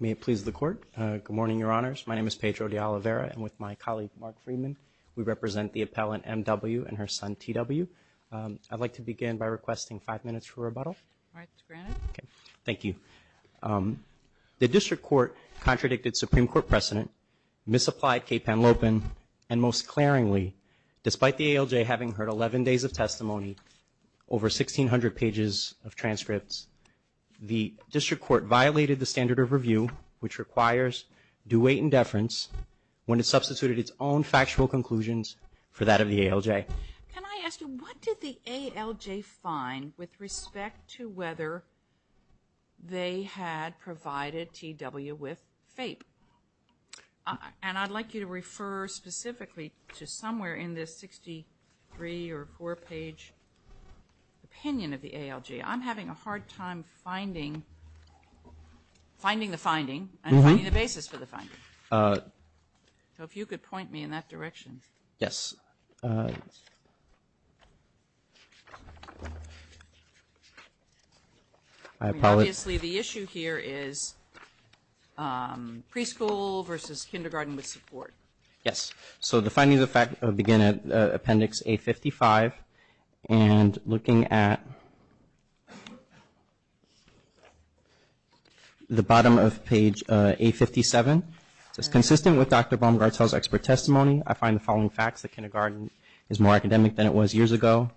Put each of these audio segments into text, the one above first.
May it please the court, good morning, your honors. My name is Pedro de Oliveira, and with my colleague, Mark Freeman, we represent the appellant M.W. and her son, T.W. I'd like to begin by requesting five minutes for rebuttal. All right, granted. Thank you. The district court contradicted Supreme Court precedent, misapplied KPAN Lopen, and most over 1,600 pages of transcripts. The district court violated the standard of review, which requires due weight and deference when it substituted its own factual conclusions for that of the ALJ. Can I ask you, what did the ALJ find with respect to whether they had provided T.W. with FAPE? And I'd like you to refer specifically to somewhere in this 63 or 64-page opinion of the ALJ. I'm having a hard time finding the finding and finding the basis for the finding, so if you could point me in that direction. Yes. Obviously, the issue here is preschool versus kindergarten with support. Yes. So, the findings begin at appendix A55, and looking at the bottom of page A57, it's consistent with Dr. Baumgartel's expert testimony. I find the following facts. The kindergarten is more academic than it was years ago,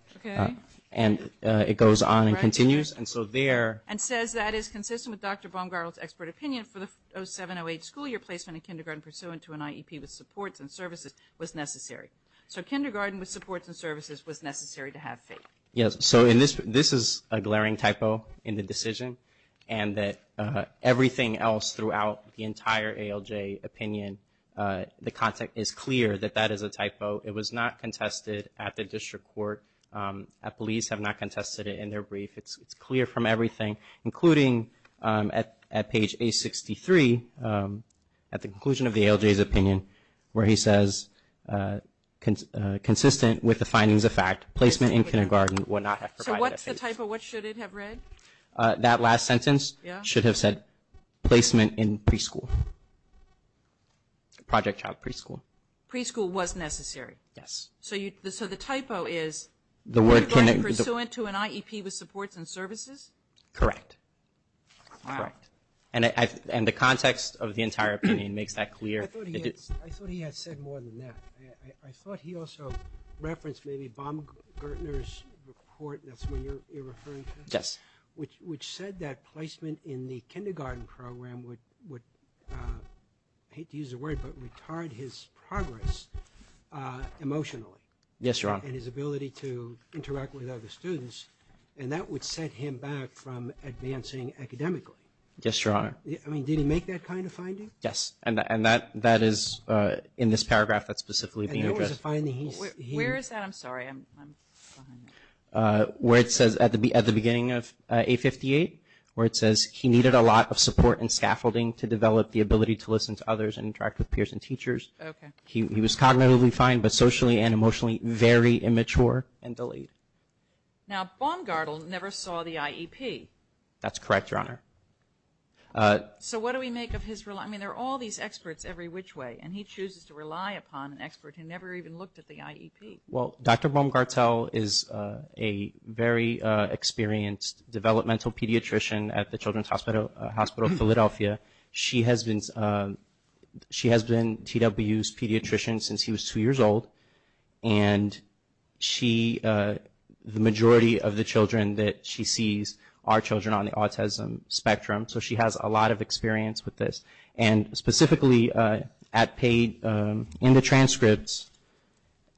and it goes on and continues, and so there. And says that it's consistent with Dr. Baumgartel's expert opinion for the 07-08 school year placement in kindergarten pursuant to an IEP with supports and services was necessary. So, kindergarten with supports and services was necessary to have FAPE. Yes. So, this is a glaring typo in the decision, and that everything else throughout the entire ALJ opinion, the content is clear that that is a typo. It was not contested at the district court. Police have not contested it in their brief. It's clear from everything, including at page A63, at the conclusion of the ALJ's opinion, where he says, consistent with the findings of fact, placement in kindergarten would not have provided a FAPE. So, what's the typo? What should it have read? That last sentence should have said, placement in preschool, project child preschool. Preschool was necessary. Yes. So, the typo is kindergarten pursuant to an IEP with supports and services? Correct. Wow. Correct. And the context of the entire opinion makes that clear. I thought he had said more than that. I thought he also referenced maybe Baumgartner's report, that's what you're referring to. Yes. Which said that placement in the kindergarten program would, I hate to use the word, but retard his progress emotionally. Yes, Your Honor. And his ability to interact with other students. And that would set him back from advancing academically. Yes, Your Honor. I mean, did he make that kind of finding? Yes. And that is in this paragraph that's specifically being addressed. Where is that? I'm sorry. I'm behind it. Where it says, at the beginning of A58, where it says, he needed a lot of support and scaffolding to develop the ability to listen to others and interact with peers and teachers. Okay. He was cognitively fine, but socially and emotionally very immature and delayed. Now, Baumgartner never saw the IEP. That's correct, Your Honor. So, what do we make of his, I mean, there are all these experts every which way. And he chooses to rely upon an expert who never even looked at the IEP. Well, Dr. Baumgartner is a very experienced developmental pediatrician at the Children's Hospital of Philadelphia. She has been TW's pediatrician since he was two years old. And she, the majority of the children that she sees are children on the autism spectrum. So, she has a lot of experience with this. And specifically, at page, in the transcripts,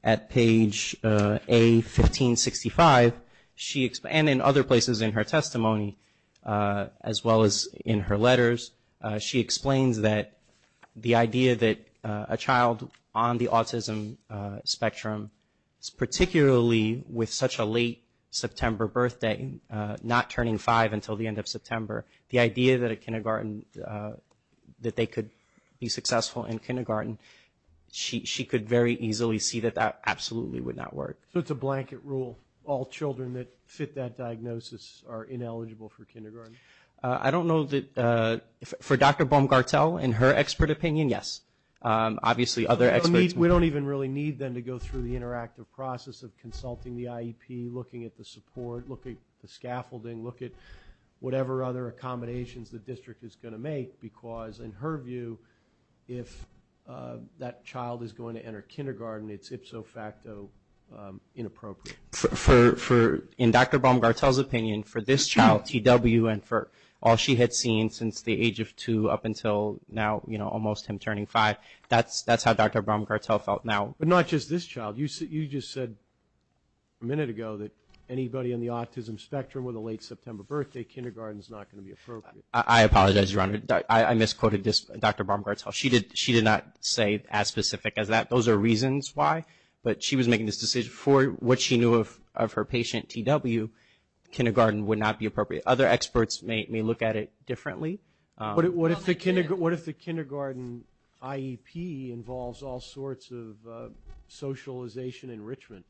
at page A1565, she, and in other places in her testimony, as well as in her letters, she explains that the idea that a child on the autism spectrum, particularly with such a late September birthday, not turning five until the end of September, the idea that a kindergarten, that they could be successful in kindergarten, she could very easily see that that absolutely would not work. So, it's a blanket rule. All children that fit that diagnosis are ineligible for kindergarten? I don't know that, for Dr. Baumgartner, in her expert opinion, yes. Obviously, other experts. We don't even really need, then, to go through the interactive process of consulting the whatever other accommodations the district is going to make, because, in her view, if that child is going to enter kindergarten, it's ipso facto inappropriate. For, in Dr. Baumgartner's opinion, for this child, TW, and for all she had seen since the age of two up until now, you know, almost him turning five, that's how Dr. Baumgartner felt now. But not just this child. You just said a minute ago that anybody on the autism spectrum with a late September birthday, kindergarten's not going to be appropriate. I apologize, Your Honor. I misquoted this, Dr. Baumgartner. She did not say as specific as that. Those are reasons why. But she was making this decision. For what she knew of her patient, TW, kindergarten would not be appropriate. Other experts may look at it differently. What if the kindergarten IEP involves all sorts of socialization enrichment?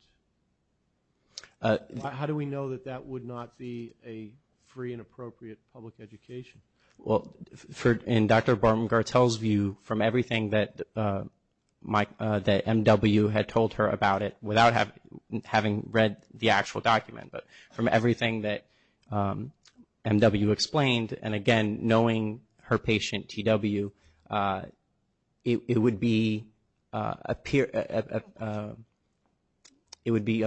How do we know that that would not be a free and appropriate public education? Well, in Dr. Baumgartner's view, from everything that MW had told her about it, without having read the actual document, but from everything that MW explained, and again, knowing her patient, TW, it would be a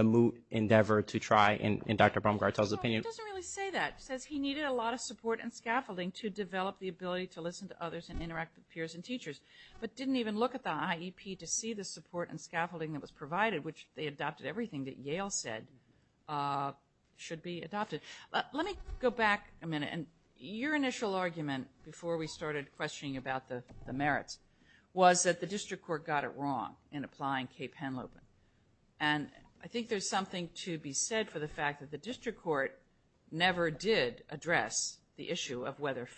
moot endeavor to try, in Dr. Baumgartner's opinion. He doesn't really say that. He says he needed a lot of support and scaffolding to develop the ability to listen to others and interact with peers and teachers, but didn't even look at the IEP to see the support and scaffolding that was provided, which they adopted everything that Yale said should be adopted. Let me go back a minute. Your initial argument before we started questioning about the merits was that the district court got it wrong in applying Cape Henlopen. I think there's something to be said for the fact that the district court never did address the issue of whether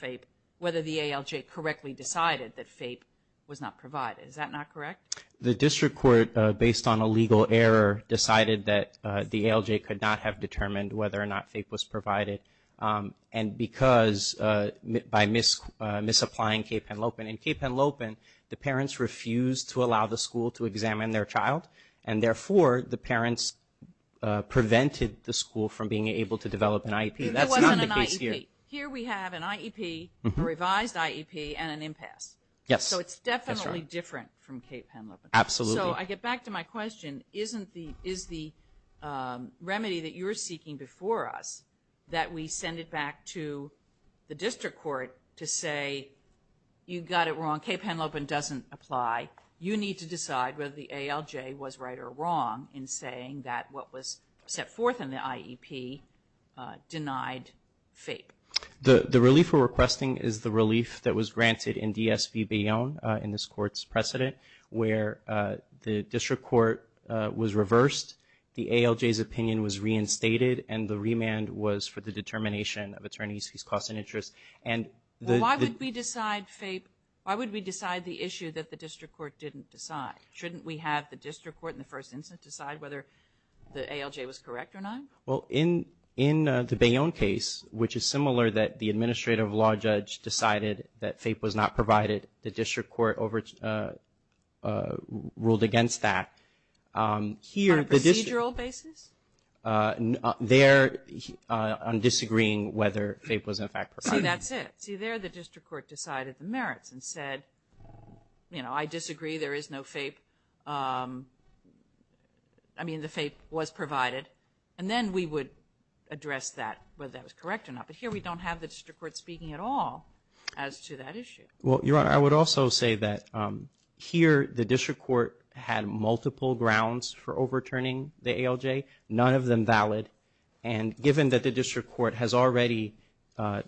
the ALJ correctly decided that FAPE was not provided. Is that not correct? The district court, based on a legal error, decided that the ALJ could not have FAPE was provided by misapplying Cape Henlopen. In Cape Henlopen, the parents refused to allow the school to examine their child, and therefore the parents prevented the school from being able to develop an IEP. That's not the case here. There wasn't an IEP. Here we have an IEP, a revised IEP, and an impasse. Yes, that's right. So it's definitely different from Cape Henlopen. Absolutely. So I get back to my question. Is the remedy that you're seeking before us that we send it back to the district court to say you got it wrong, Cape Henlopen doesn't apply, you need to decide whether the ALJ was right or wrong in saying that what was set forth in the IEP denied FAPE? The relief we're requesting is the relief that was granted in DSV Bayonne in this court's precedent where the district court was reversed, the ALJ's opinion was reinstated, and the remand was for the determination of attorneys whose costs and interests. Why would we decide FAPE? Why would we decide the issue that the district court didn't decide? Shouldn't we have the district court in the first instance decide whether the ALJ was correct or not? Well, in the Bayonne case, which is similar that the administrative law judge decided that FAPE was not provided, the district court ruled against that. On a procedural basis? There, on disagreeing whether FAPE was in fact provided. See, that's it. See, there the district court decided the merits and said, you know, I disagree, there is no FAPE. I mean, the FAPE was provided. And then we would address that, whether that was correct or not. But here we don't have the district court speaking at all as to that issue. Well, Your Honor, I would also say that here the district court had multiple grounds for overturning the ALJ, none of them valid. And given that the district court has already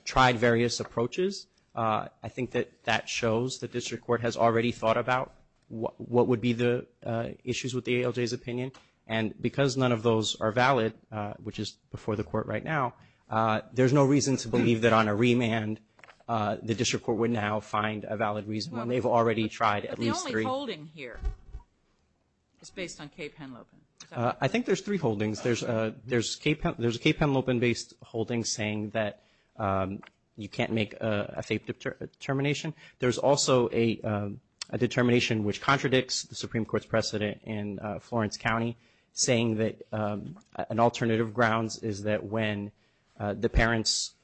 tried various approaches, I think that that shows the district court has already thought about what would be the issues with the ALJ's opinion. And because none of those are valid, which is before the court right now, there's no reason to believe that on a remand the district court would now find a valid reason when they've already tried at least three. But the only holding here is based on Kay Penlopin. I think there's three holdings. There's a Kay Penlopin-based holding saying that you can't make a FAPE determination. There's also a determination which contradicts the Supreme Court's precedent in Florence County saying that an alternative grounds is that when the parents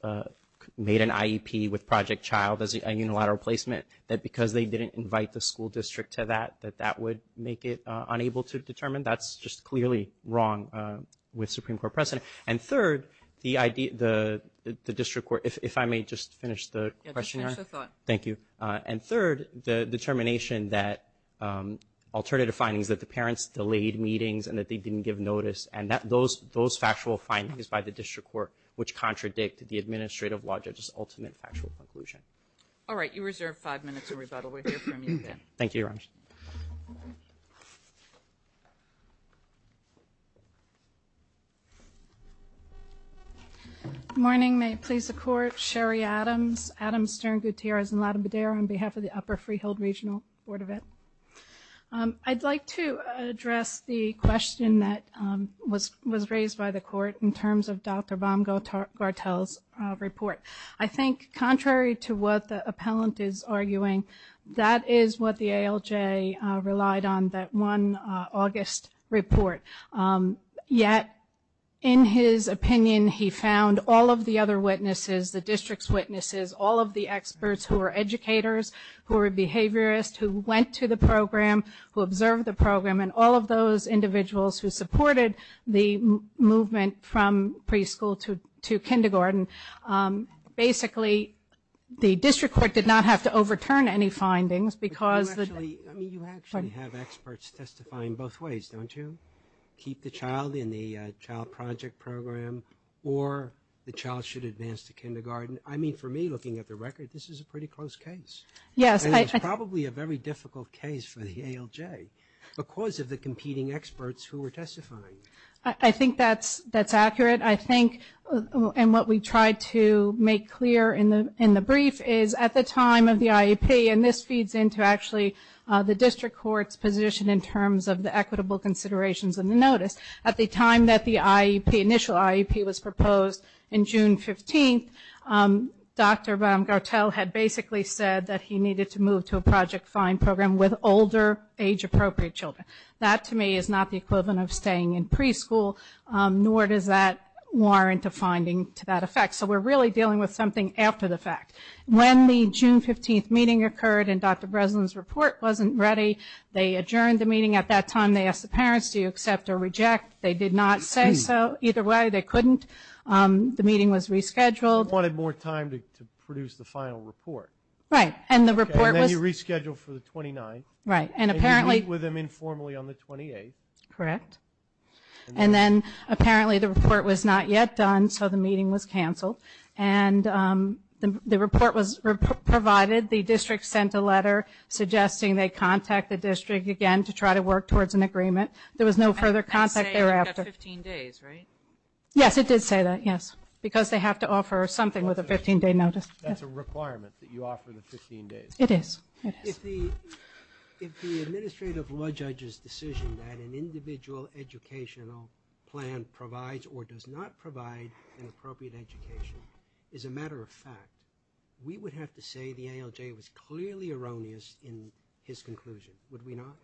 made an IEP with Project Child as a unilateral placement, that because they didn't invite the school district to that, that that would make it unable to determine. That's just clearly wrong with Supreme Court precedent. And third, the district court—if I may just finish the question. Yeah, just finish the thought. Thank you. And third, the determination that alternative findings, that the parents delayed meetings and that they didn't give notice, and those factual findings by the district court which contradict the administrative law judge's ultimate factual conclusion. All right, you reserve five minutes of rebuttal. We'll hear from you then. Thank you, Your Honor. Good morning. May it please the Court. Sherry Adams, Adams, Stern, Gutierrez, and Latim-Bader on behalf of the Upper Freehill Regional Board of Ed. I'd like to address the question that was raised by the Court in terms of Dr. Bamga-Gartel's report. I think contrary to what the appellant is arguing, that is what the ALJ relied on, that one August report. Yet, in his opinion, he found all of the other witnesses, the district's witnesses, all of the experts who are educators, who are behaviorists, who went to the program, who observed the program, and all of those individuals who supported the movement from preschool to kindergarten. Basically, the district court did not have to overturn any findings because the— keep the child in the child project program or the child should advance to kindergarten. I mean, for me, looking at the record, this is a pretty close case. Yes, I— And it's probably a very difficult case for the ALJ because of the competing experts who were testifying. I think that's accurate. I think, and what we tried to make clear in the brief, is at the time of the IEP, and this feeds into actually the district court's position in terms of the equitable considerations in the notice, at the time that the IEP, initial IEP was proposed in June 15th, Dr. Bartel had basically said that he needed to move to a project find program with older, age-appropriate children. That, to me, is not the equivalent of staying in preschool, nor does that warrant a finding to that effect. So we're really dealing with something after the fact. When the June 15th meeting occurred and Dr. Breslin's report wasn't ready, they adjourned the meeting. At that time, they asked the parents, do you accept or reject? They did not say so. Either way, they couldn't. The meeting was rescheduled. They wanted more time to produce the final report. Right, and the report was— And then you rescheduled for the 29th. Right, and apparently— And you meet with them informally on the 28th. Correct. And then, apparently, the report was not yet done, so the meeting was canceled. And the report was provided. The district sent a letter suggesting they contact the district again to try to work towards an agreement. There was no further contact thereafter. And it did say you've got 15 days, right? Yes, it did say that, yes, because they have to offer something with a 15-day notice. That's a requirement that you offer the 15 days. It is. If the administrative law judge's decision that an individual educational plan provides or does not provide an appropriate education is a matter of fact, we would have to say the ALJ was clearly erroneous in his conclusion, would we not?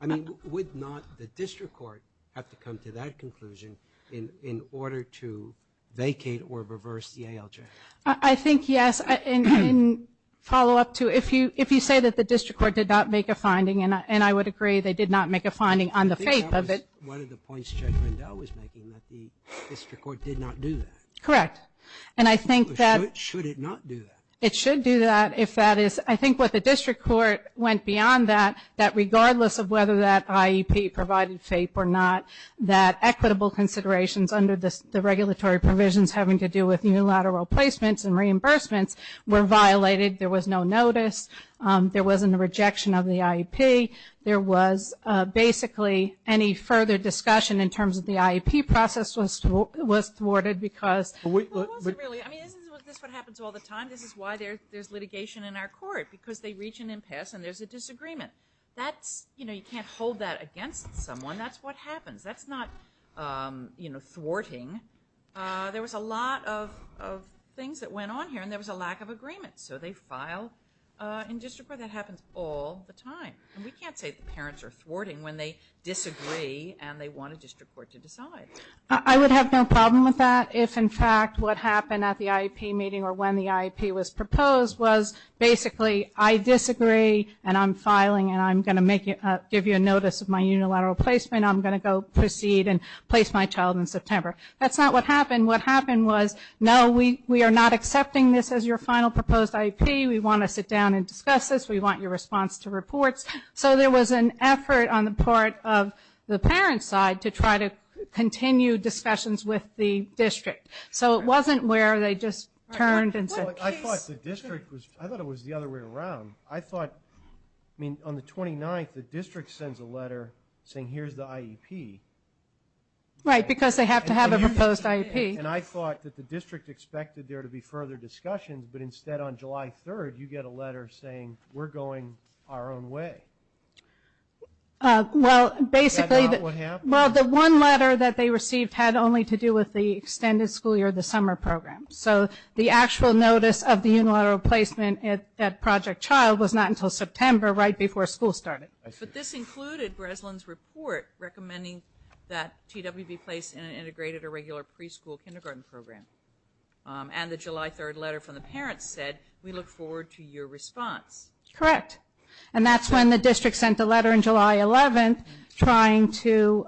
I mean, would not the district court have to come to that conclusion in order to vacate or reverse the ALJ? I think, yes. In follow-up to, if you say that the district court did not make a finding, and I would agree they did not make a finding on the fate of it— I think that was one of the points Judge Rendell was making, that the district court did not do that. Correct. And I think that— Should it not do that? It should do that if that is— I think what the district court went beyond that, that regardless of whether that IEP provided FAPE or not, that equitable considerations under the regulatory provisions having to do with unilateral placements and reimbursements were violated. There was no notice. There wasn't a rejection of the IEP. There was basically any further discussion in terms of the IEP process was thwarted because— Well, it wasn't really. I mean, this is what happens all the time. This is why there's litigation in our court, because they reach an impasse and there's a disagreement. That's—you know, you can't hold that against someone. That's what happens. That's not, you know, thwarting. There was a lot of things that went on here and there was a lack of agreement, so they filed in district court. That happens all the time. And we can't say the parents are thwarting when they disagree and they want a district court to decide. I would have no problem with that if, in fact, what happened at the IEP meeting or when the IEP was proposed was basically I disagree and I'm filing and I'm going to give you a notice of my unilateral placement. I'm going to go proceed and place my child in September. That's not what happened. What happened was, no, we are not accepting this as your final proposed IEP. We want to sit down and discuss this. We want your response to reports. So there was an effort on the part of the parents' side to try to continue discussions with the district. So it wasn't where they just turned and said... I thought the district was... I thought it was the other way around. I thought, I mean, on the 29th, the district sends a letter saying, here's the IEP. Right, because they have to have a proposed IEP. And I thought that the district expected there to be further discussions, but instead on July 3rd, you get a letter saying, we're going our own way. Well, basically... That's not what happened. Well, the one letter that they received had only to do with the extended school year, the summer program. So the actual notice of the unilateral placement at Project Child was not until September, right before school started. But this included Breslin's report recommending that TW be placed in an integrated or regular preschool kindergarten program. And the July 3rd letter from the parents said, we look forward to your response. Correct. And that's when the district sent a letter on July 11th, trying to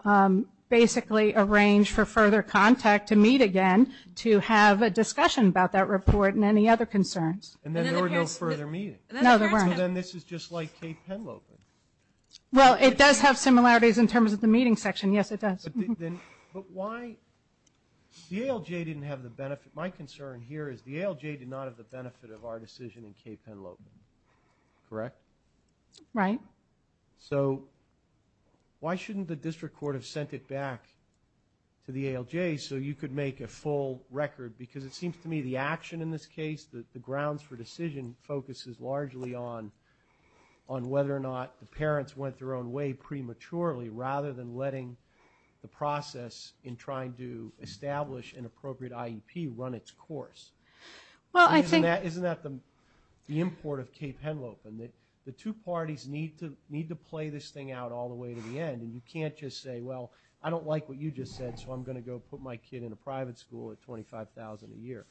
basically arrange for further contact to meet again, to have a discussion about that report and any other concerns. And then there were no further meetings. No, there weren't. So then this is just like Cape Henlopen. Well, it does have similarities in terms of the meeting section. Yes, it does. But why... The ALJ didn't have the benefit... My concern here is the ALJ did not have the benefit of our decision in Cape Henlopen. Correct? Right. So why shouldn't the district court have sent it back to the ALJ so you could make a full record? Because it seems to me the action in this case, the grounds for decision, focuses largely on whether or not the parents went their own way prematurely, rather than letting the process in trying to establish an appropriate IEP run its course. Well, I think... Isn't that the import of Cape Henlopen? The two parties need to play this thing out all the way to the end. And you can't just say, well, I don't like what you just said, so I'm gonna go put my kid in a private school at $25,000 a year.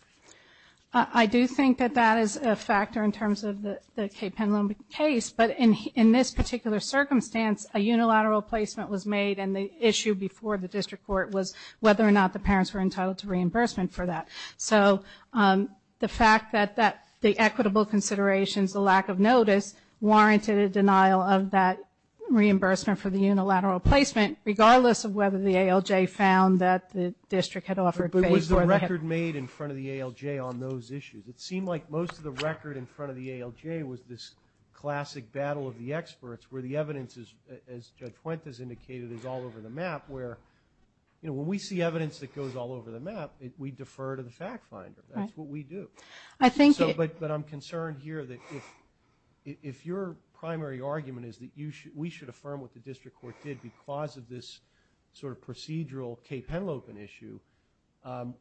I do think that that is a factor in terms of the Cape Henlopen case. But in this particular circumstance, a unilateral placement was made, and the issue before the district court was whether or not the parents were entitled to reimbursement for that. So the fact that the equitable considerations, the lack of notice, warranted a denial of that reimbursement for the unilateral placement, regardless of whether the ALJ found that the district had offered... But was the record made in front of the ALJ on those issues? It seemed like most of the record in front of the ALJ was this classic battle of the experts, where the evidence is, as Judge Fuentes indicated, is all over the map, where, you know, when we see evidence that goes all over the map, we defer to the fact finder. That's what we do. I think... But I'm concerned here that if your primary argument is that we should affirm what the district court did because of this sort of procedural Cape Henlopen issue,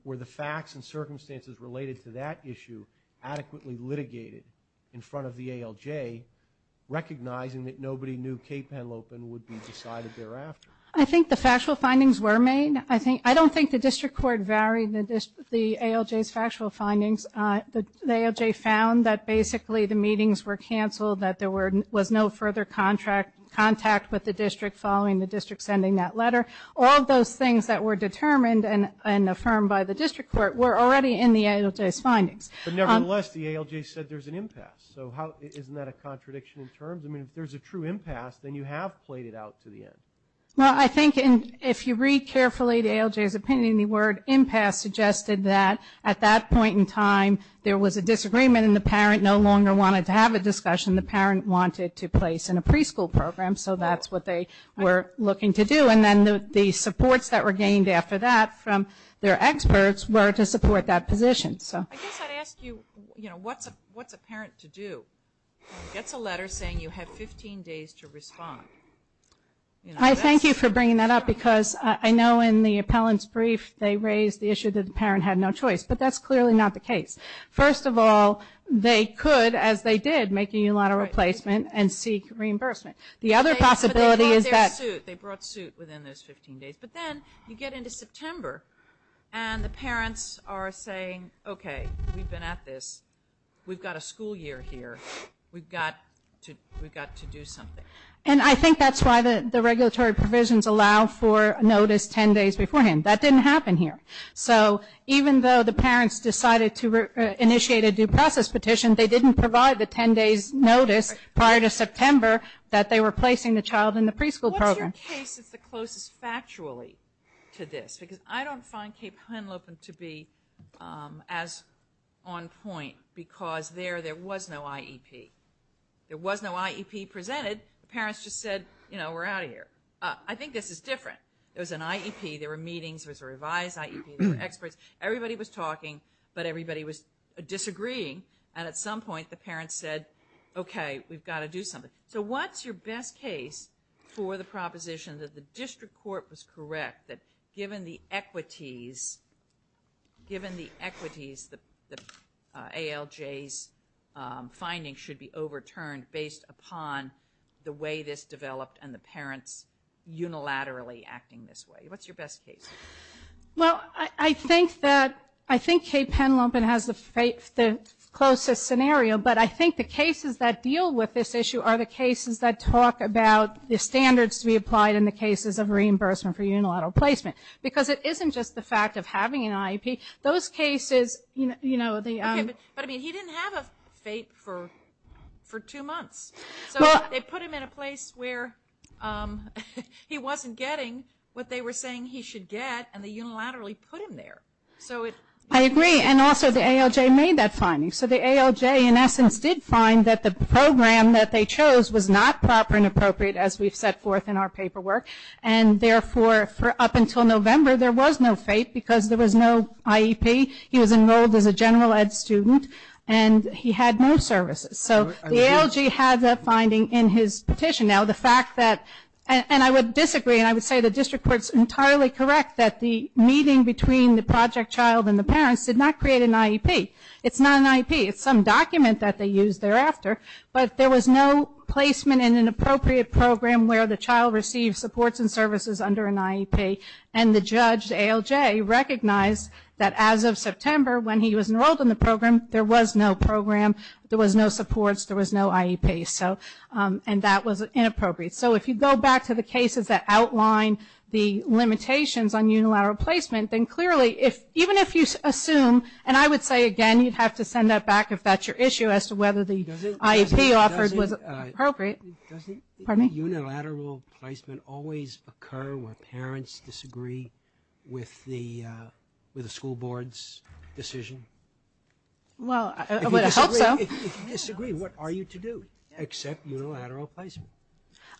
were the facts and circumstances related to that issue adequately litigated in front of the ALJ, recognizing that nobody knew Cape Henlopen would be decided thereafter? I think the factual findings were made. I don't think the district court varied the ALJ's factual findings. The ALJ found that basically the meetings were canceled, that there was no further contact with the district following the district sending that letter. All of those things that were determined and affirmed by the district court were already in the ALJ's findings. But nevertheless, the ALJ said there's an impasse. So isn't that a contradiction in terms? I mean, if there's a true impasse, then you have played it out to the end. Well, I think if you read carefully the ALJ's opinion, the word impasse suggested that at that point in time, there was a disagreement and the parent no longer wanted to have a discussion. The parent wanted to place in a preschool program. So that's what they were looking to do. And then the supports that were gained after that from their experts were to support that position. I guess I'd ask you, what's a parent to do? Gets a letter saying you have 15 days to respond. I thank you for bringing that up because I know in the appellant's brief they raised the issue that the parent had no choice. But that's clearly not the case. First of all, they could, as they did, make a unilateral replacement and seek reimbursement. The other possibility is that... But they brought their suit. They brought suit within those 15 days. But then, you get into September and the parents are saying, okay, we've been at this. We've got a school year here. We've got to do something. And I think that's why the regulatory provisions allow for notice 10 days beforehand. That didn't happen here. So, even though the parents decided to initiate a due process petition, they didn't provide the 10 days notice prior to September that they were placing the child in the preschool program. What's your case that's the closest factually to this? Because I don't find Cape Henlopen to be as on point because there, there was no IEP. There was no IEP presented. The parents just said, you know, we're out of here. I think this is different. There was an IEP. There were meetings. There was a revised IEP. There were experts. Everybody was talking but everybody was disagreeing. And at some point the parents said, okay, we've got to do something. So, what's your best case for the proposition that the district court was correct that given the equities, given the equities the ALJ's findings should be overturned based upon the way this developed and the parents unilaterally acting this way. What's your best case? Well, I think that I think Cape Henlopen has the closest scenario but I think the cases that deal with this issue are the cases that talk about the standards to be applied in the cases of reimbursement for unilateral placement because it isn't just the fact of having an IEP. Those cases, you know, the but I mean he didn't have a fate for two months. So, they put him in a place where he wasn't getting what they were saying he should get and they unilaterally put him there. So, I agree and also the ALJ made that finding. So, the ALJ in essence did find that the program that they chose was not proper and appropriate as we've set forth in our paperwork and therefore up until November there was no fate because there was no IEP. He was enrolled as a general ed student and he had no services. So, the ALJ had that finding in his petition. Now, the fact that and I would disagree and I would say the district court is entirely correct that the meeting between the project child and the parents did not create an IEP. It's not an IEP. It's some document that they used thereafter but there was no placement in an appropriate program where the child received supports and services under an IEP and the judge ALJ recognized that as of September when he was enrolled in the program there was no program there was no supports there was no IEP so and that was inappropriate. So, if you go back to the cases that outline the limitations on unilateral placement then clearly even if you assume and I would say again you'd have to send that back if that's your issue as to whether the IEP offered was appropriate. Pardon me? Unilateral placement always occur where parents disagree with the with the school board's Well, I would hope so. If you disagree what are you to do except unilateral placement?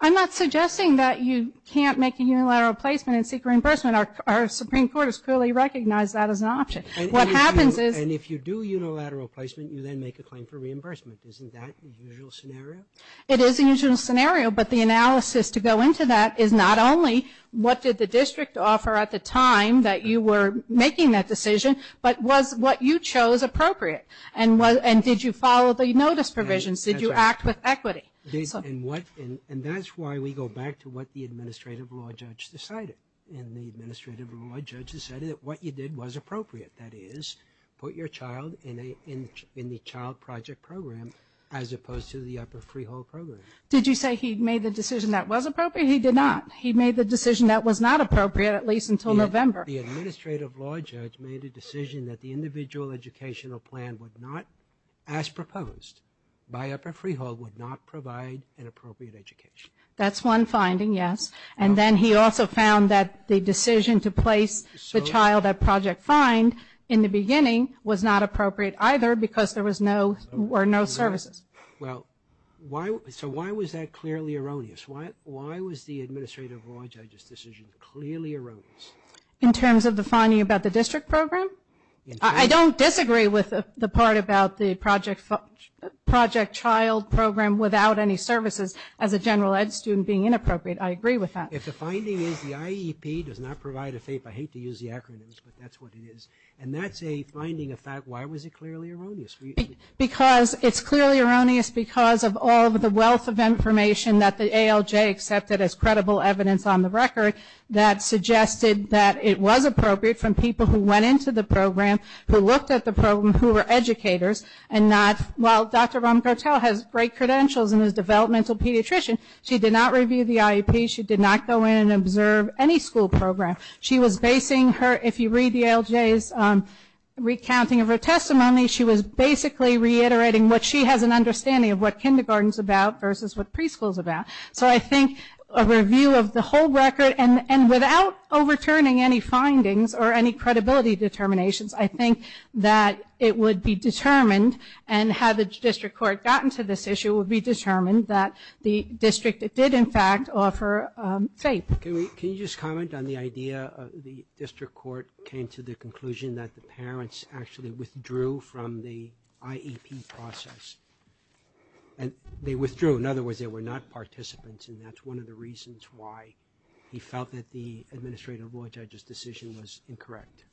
I'm not suggesting that you can't make a unilateral placement and seek reimbursement. Our Supreme Court has clearly recognized that as an option. What happens is And if you do unilateral placement you then make a claim for reimbursement. Isn't that the usual scenario? It is the usual scenario but the analysis to go into that is not only what did the district offer at the time that you were making that decision but was what you chose appropriate and did you follow the notice provisions? Did you act with equity? And that's why we go back to what the administrative law judge decided and the administrative law judge decided that what you did was appropriate that is put your child in the child project program as opposed to the upper freehold program. Did you say he made the decision that was appropriate? He did not. He made the decision that was not appropriate at least until November. The administrative law judge made a decision that the individual educational plan would not as proposed by upper freehold would not provide an appropriate education. That's one finding, yes. And then he also found that the decision to place the child at project find in the beginning was not appropriate either because there were no services. Well, so why was that clearly erroneous? Why was the administrative law judge's decision clearly erroneous? In terms of the finding about the district program? I don't disagree with the part about the project child program without any services as a general ed student being inappropriate. I agree with that. If the finding is the IEP does not provide a FAPE, I hate to use the acronyms but that's what it is. And that's a finding, a fact, why was it clearly erroneous? Because it's clearly erroneous because of all the wealth of information that the ALJ accepted as credible evidence on the record that suggested that it was appropriate from people who went into the program who looked at the program who were educators and not, while Dr. Rahm-Cartel has great credentials and is a developmental pediatrician, she did not review the IEP, she did not go in and observe any school program. She was basing her, if you read the ALJ's recounting of her testimony, she was basically reiterating what she has an understanding of what kindergarten's about versus what preschool's about. So I think a review of the whole record and without overturning any findings or any credibility determinations, I think that it would be determined and had the district court gotten to this issue would be determined that the district did in fact offer FAPE. Can you just comment on the idea of the district court came to the conclusion that the administrative judge's decision was incorrect?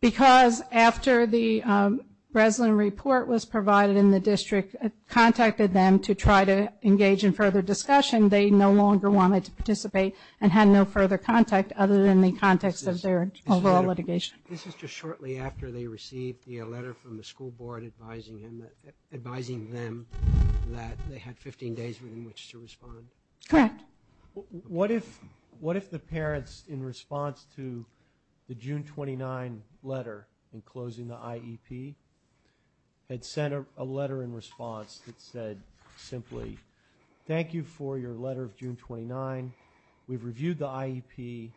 Because after the Breslin report was provided in the district contacted them to try to engage in further discussion they no longer wanted to participate and had no further contact other than the context of their overall litigation. This is just shortly after they received the letter from the school board advising them that they had 15 days in which to respond. Correct. What if the parents in response to the June 29 letter in closing the IEP had sent a letter in response that said simply thank you for your letter of June 29 we've reviewed the IEP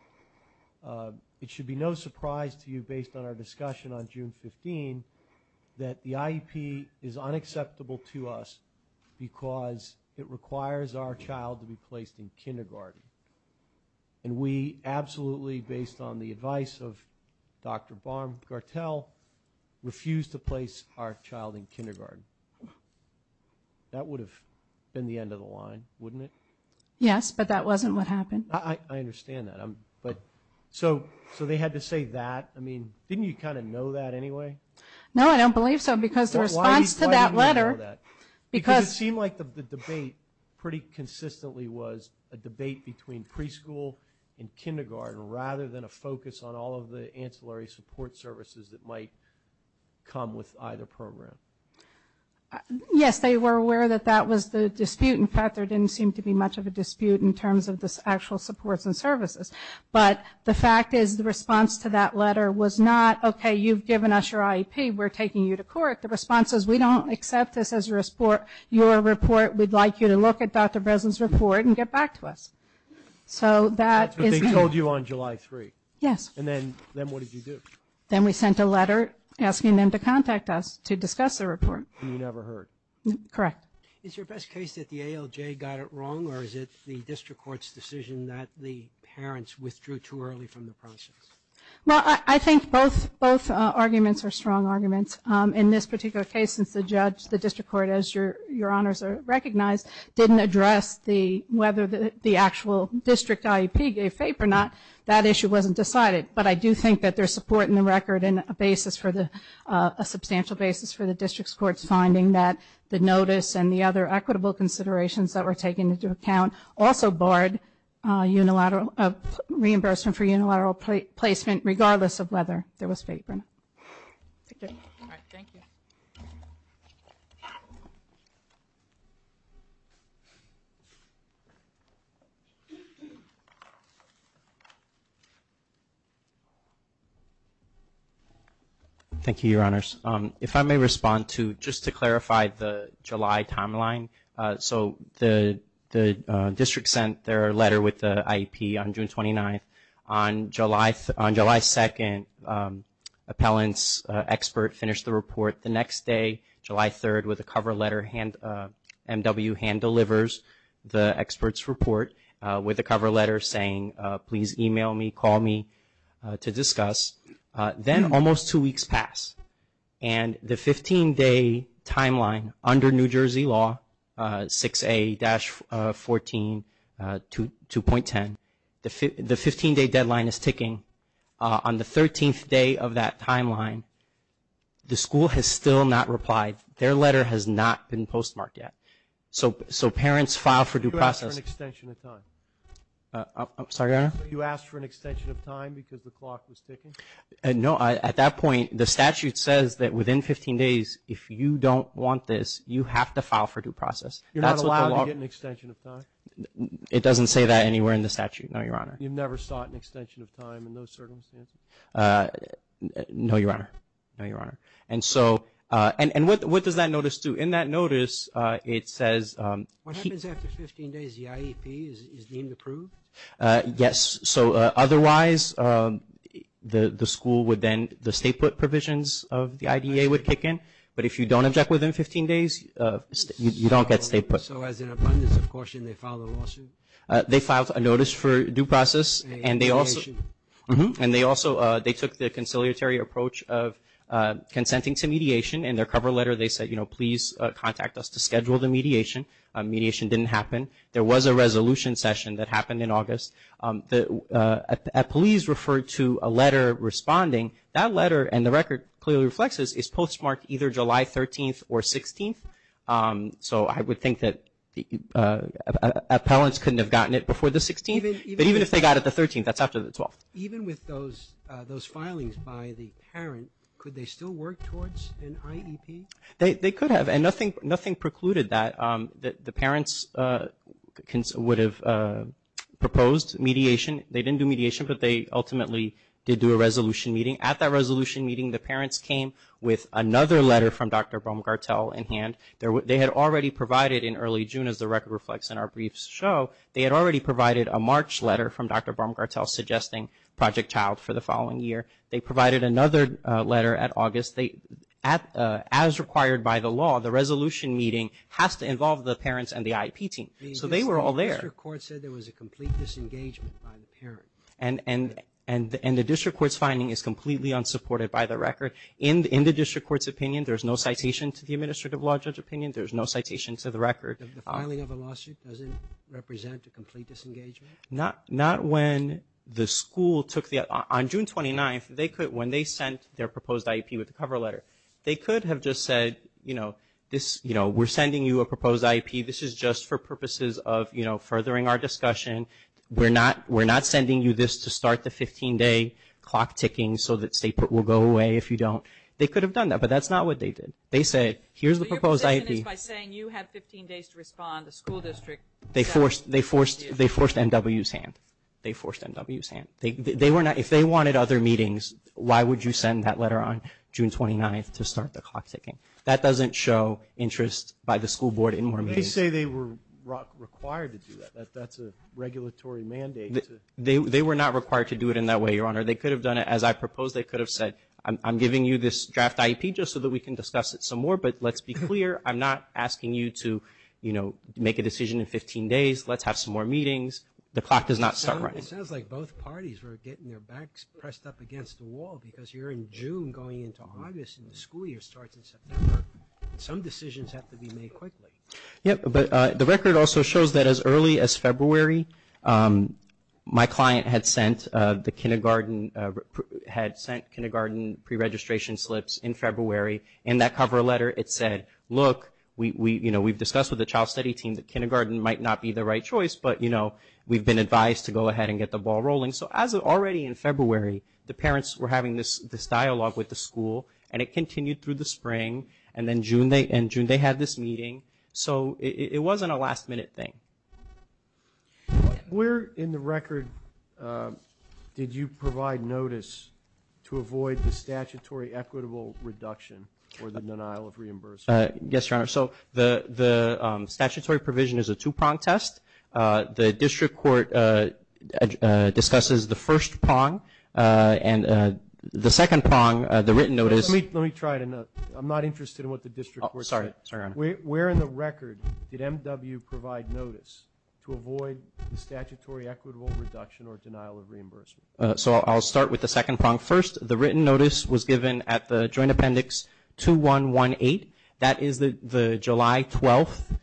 it should be no surprise to you based on our discussion on June 15 that the IEP is unacceptable to us because it requires our child to be placed in kindergarten and we absolutely based on the advice of Dr. Baum Gartell refused to place our child in kindergarten. That would have been the end of the line wouldn't it? Yes but that wasn't what happened. I understand that but so they had to say that I mean didn't you kind of know that anyway? No I don't believe so because the response to that letter because it seemed like the debate pretty consistently was a debate between preschool and kindergarten rather than a focus on all of the ancillary support services that might come with either program. Yes they were aware that that was the dispute in fact there didn't seem to be much of a dispute in terms of the actual supports and services but the fact is the response to that letter was not okay you've given us your IEP we're taking you to court the response is we don't accept this as a report your report we'd like you to look at Dr. Breslin's report and get back to us. So that is what they told you on July 3? Yes. And then what did you do? Then we sent a letter asking them to contact us to discuss the report. And you never heard? Correct. Is your best case that the ALJ got it wrong or is it the district court's decision that the parents withdrew too early from the process? Well I think both arguments are strong arguments in this particular case since the judge the district court as your your honors recognize didn't address the whether the actual district IEP gave FAPE or not that issue wasn't decided. But I do think that there's support in the record and a substantial basis for the district court's finding that the notice and the other equitable considerations that were taken into account also barred unilateral reimbursement for unilateral placement regardless of whether there was FAPE or not. Thank you your honors. If I may respond to just to clarify the July timeline so the district sent their letter with the IEP on June 29th on July on July 2nd appellant's expert finished the report the next day July 3rd with a cover letter MW hand delivers the expert's report with a cover letter saying please email me call me to discuss then almost two weeks passed and the 15 day timeline under New Jersey law 6A dash 14 2.10 the 15 day deadline is ticking on the 13th day of that timeline the school has still not replied their letter has not been postmarked yet. So parents file for due process extension of time sorry your honor you asked for an extension of time because the clock was ticking? No at that point the statute says that within 15 days if you don't want this you have to file for due process you're not allowed to get an extension of time? It doesn't say that anywhere in the statute no your honor you've never sought an extension of time. Otherwise the school would then the state put provisions of the IDA would kick in but if you don't object within 15 days you don't get state put. So as an abundance of caution they filed a lawsuit? They filed a notice for due process and they also they took the conciliatory approach of consenting to mediation in their cover letter they said you know please contact us to schedule the mediation mediation didn't happen. There was a resolution session that happened in August the police referred to a letter responding that letter and the record clearly reflects is postmarked either July 13th or 16th. So I would think that appellants couldn't have gotten it before the 16th but even if they got it the 13th that's after the 12th. Even with those filings by the parent could they still work towards an IEP? They could have and nothing precluded that the parents would have proposed mediation they didn't do mediation but they ultimately did do a resolution meeting. At that resolution meeting the parents came with another letter from Dr. Baumgartel suggesting Project Child for the following year. They provided another letter at August. As required by the law the resolution meeting has to involve the parents and the IEP team. So they were all there. And the district court said there was a complete disengagement by the parent. And the district finding is completely unsupported by the record. In the district court's opinion there's no citation to the record. The filing of a lawsuit represent a complete disengagement? Not when the school took the on June 29th they could when they sent their proposed IEP with the cover letter they could have just said we're sending you a proposed IEP. This is just for purposes of furthering our discussion. We're not sending you this to start the 15-day clock ticking so that state court will go away if you don't. They could have done that but that's not what they did. They forced M.W.'s hand. If they wanted other meetings why would you send that letter on June 29th to start the clock ticking. That doesn't show interest by the state court. I'm not asking you to make a decision in 15 days. Let's have more meetings. The clock does not start running. The record shows that as early as February my client had sent kindergarten pre-registration slips in February. In that cover letter it said look we've discussed with the child study team that kindergarten might not be the right choice but we've been advised to get the ball rolling. Already in February the parents were having this dialogue with the school and continued through the spring and June they had this meeting. It wasn't a last meeting but it was a very important meeting. I will start with the second prong. The written notice was given at the joint appendix 2118. That is the July 12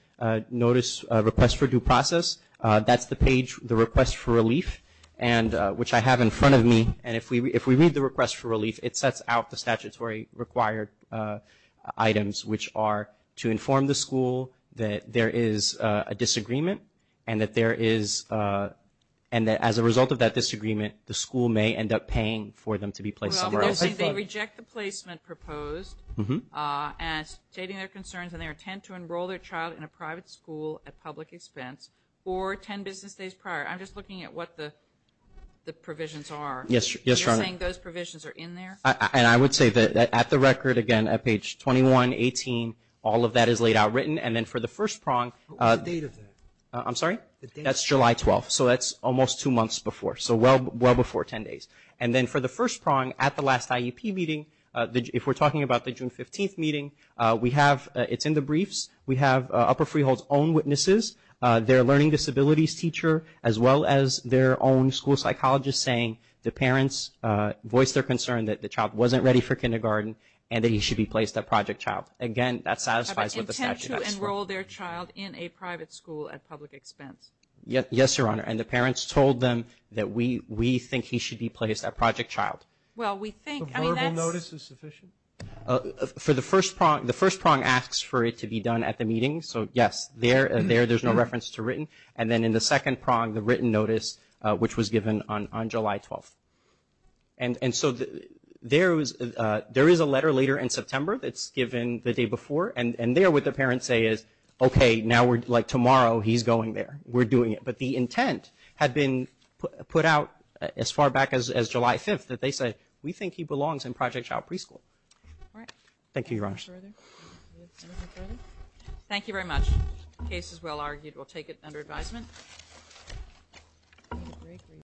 notice request for due process. That's the page for relief. If we read the request for relief it sets out the items to inform the school that there is a disagreement and that as a result of that disagreement the school may end up paying for them to be placed somewhere else. They reject the placement proposed and they intend to enroll their child in a private at public expense. That is July 12. That is almost two months before. For the first prong at the last IEP meeting it is in the briefs. We have Upper Freehold's own witnesses, their learning disabilities teacher as well as their own school psychologist saying the parents voiced their concern that the child wasn't ready for kindergarten and that he should be placed at Project Child. The first prong asks for it to be done at the meeting. In the second prong the written notice was given on July 5th. The intent had been put out as far back as July 5th. We think he belongs in Project Child Preschool. Thank you. Thank you very much. The case is well argued. We'll take it under advisement.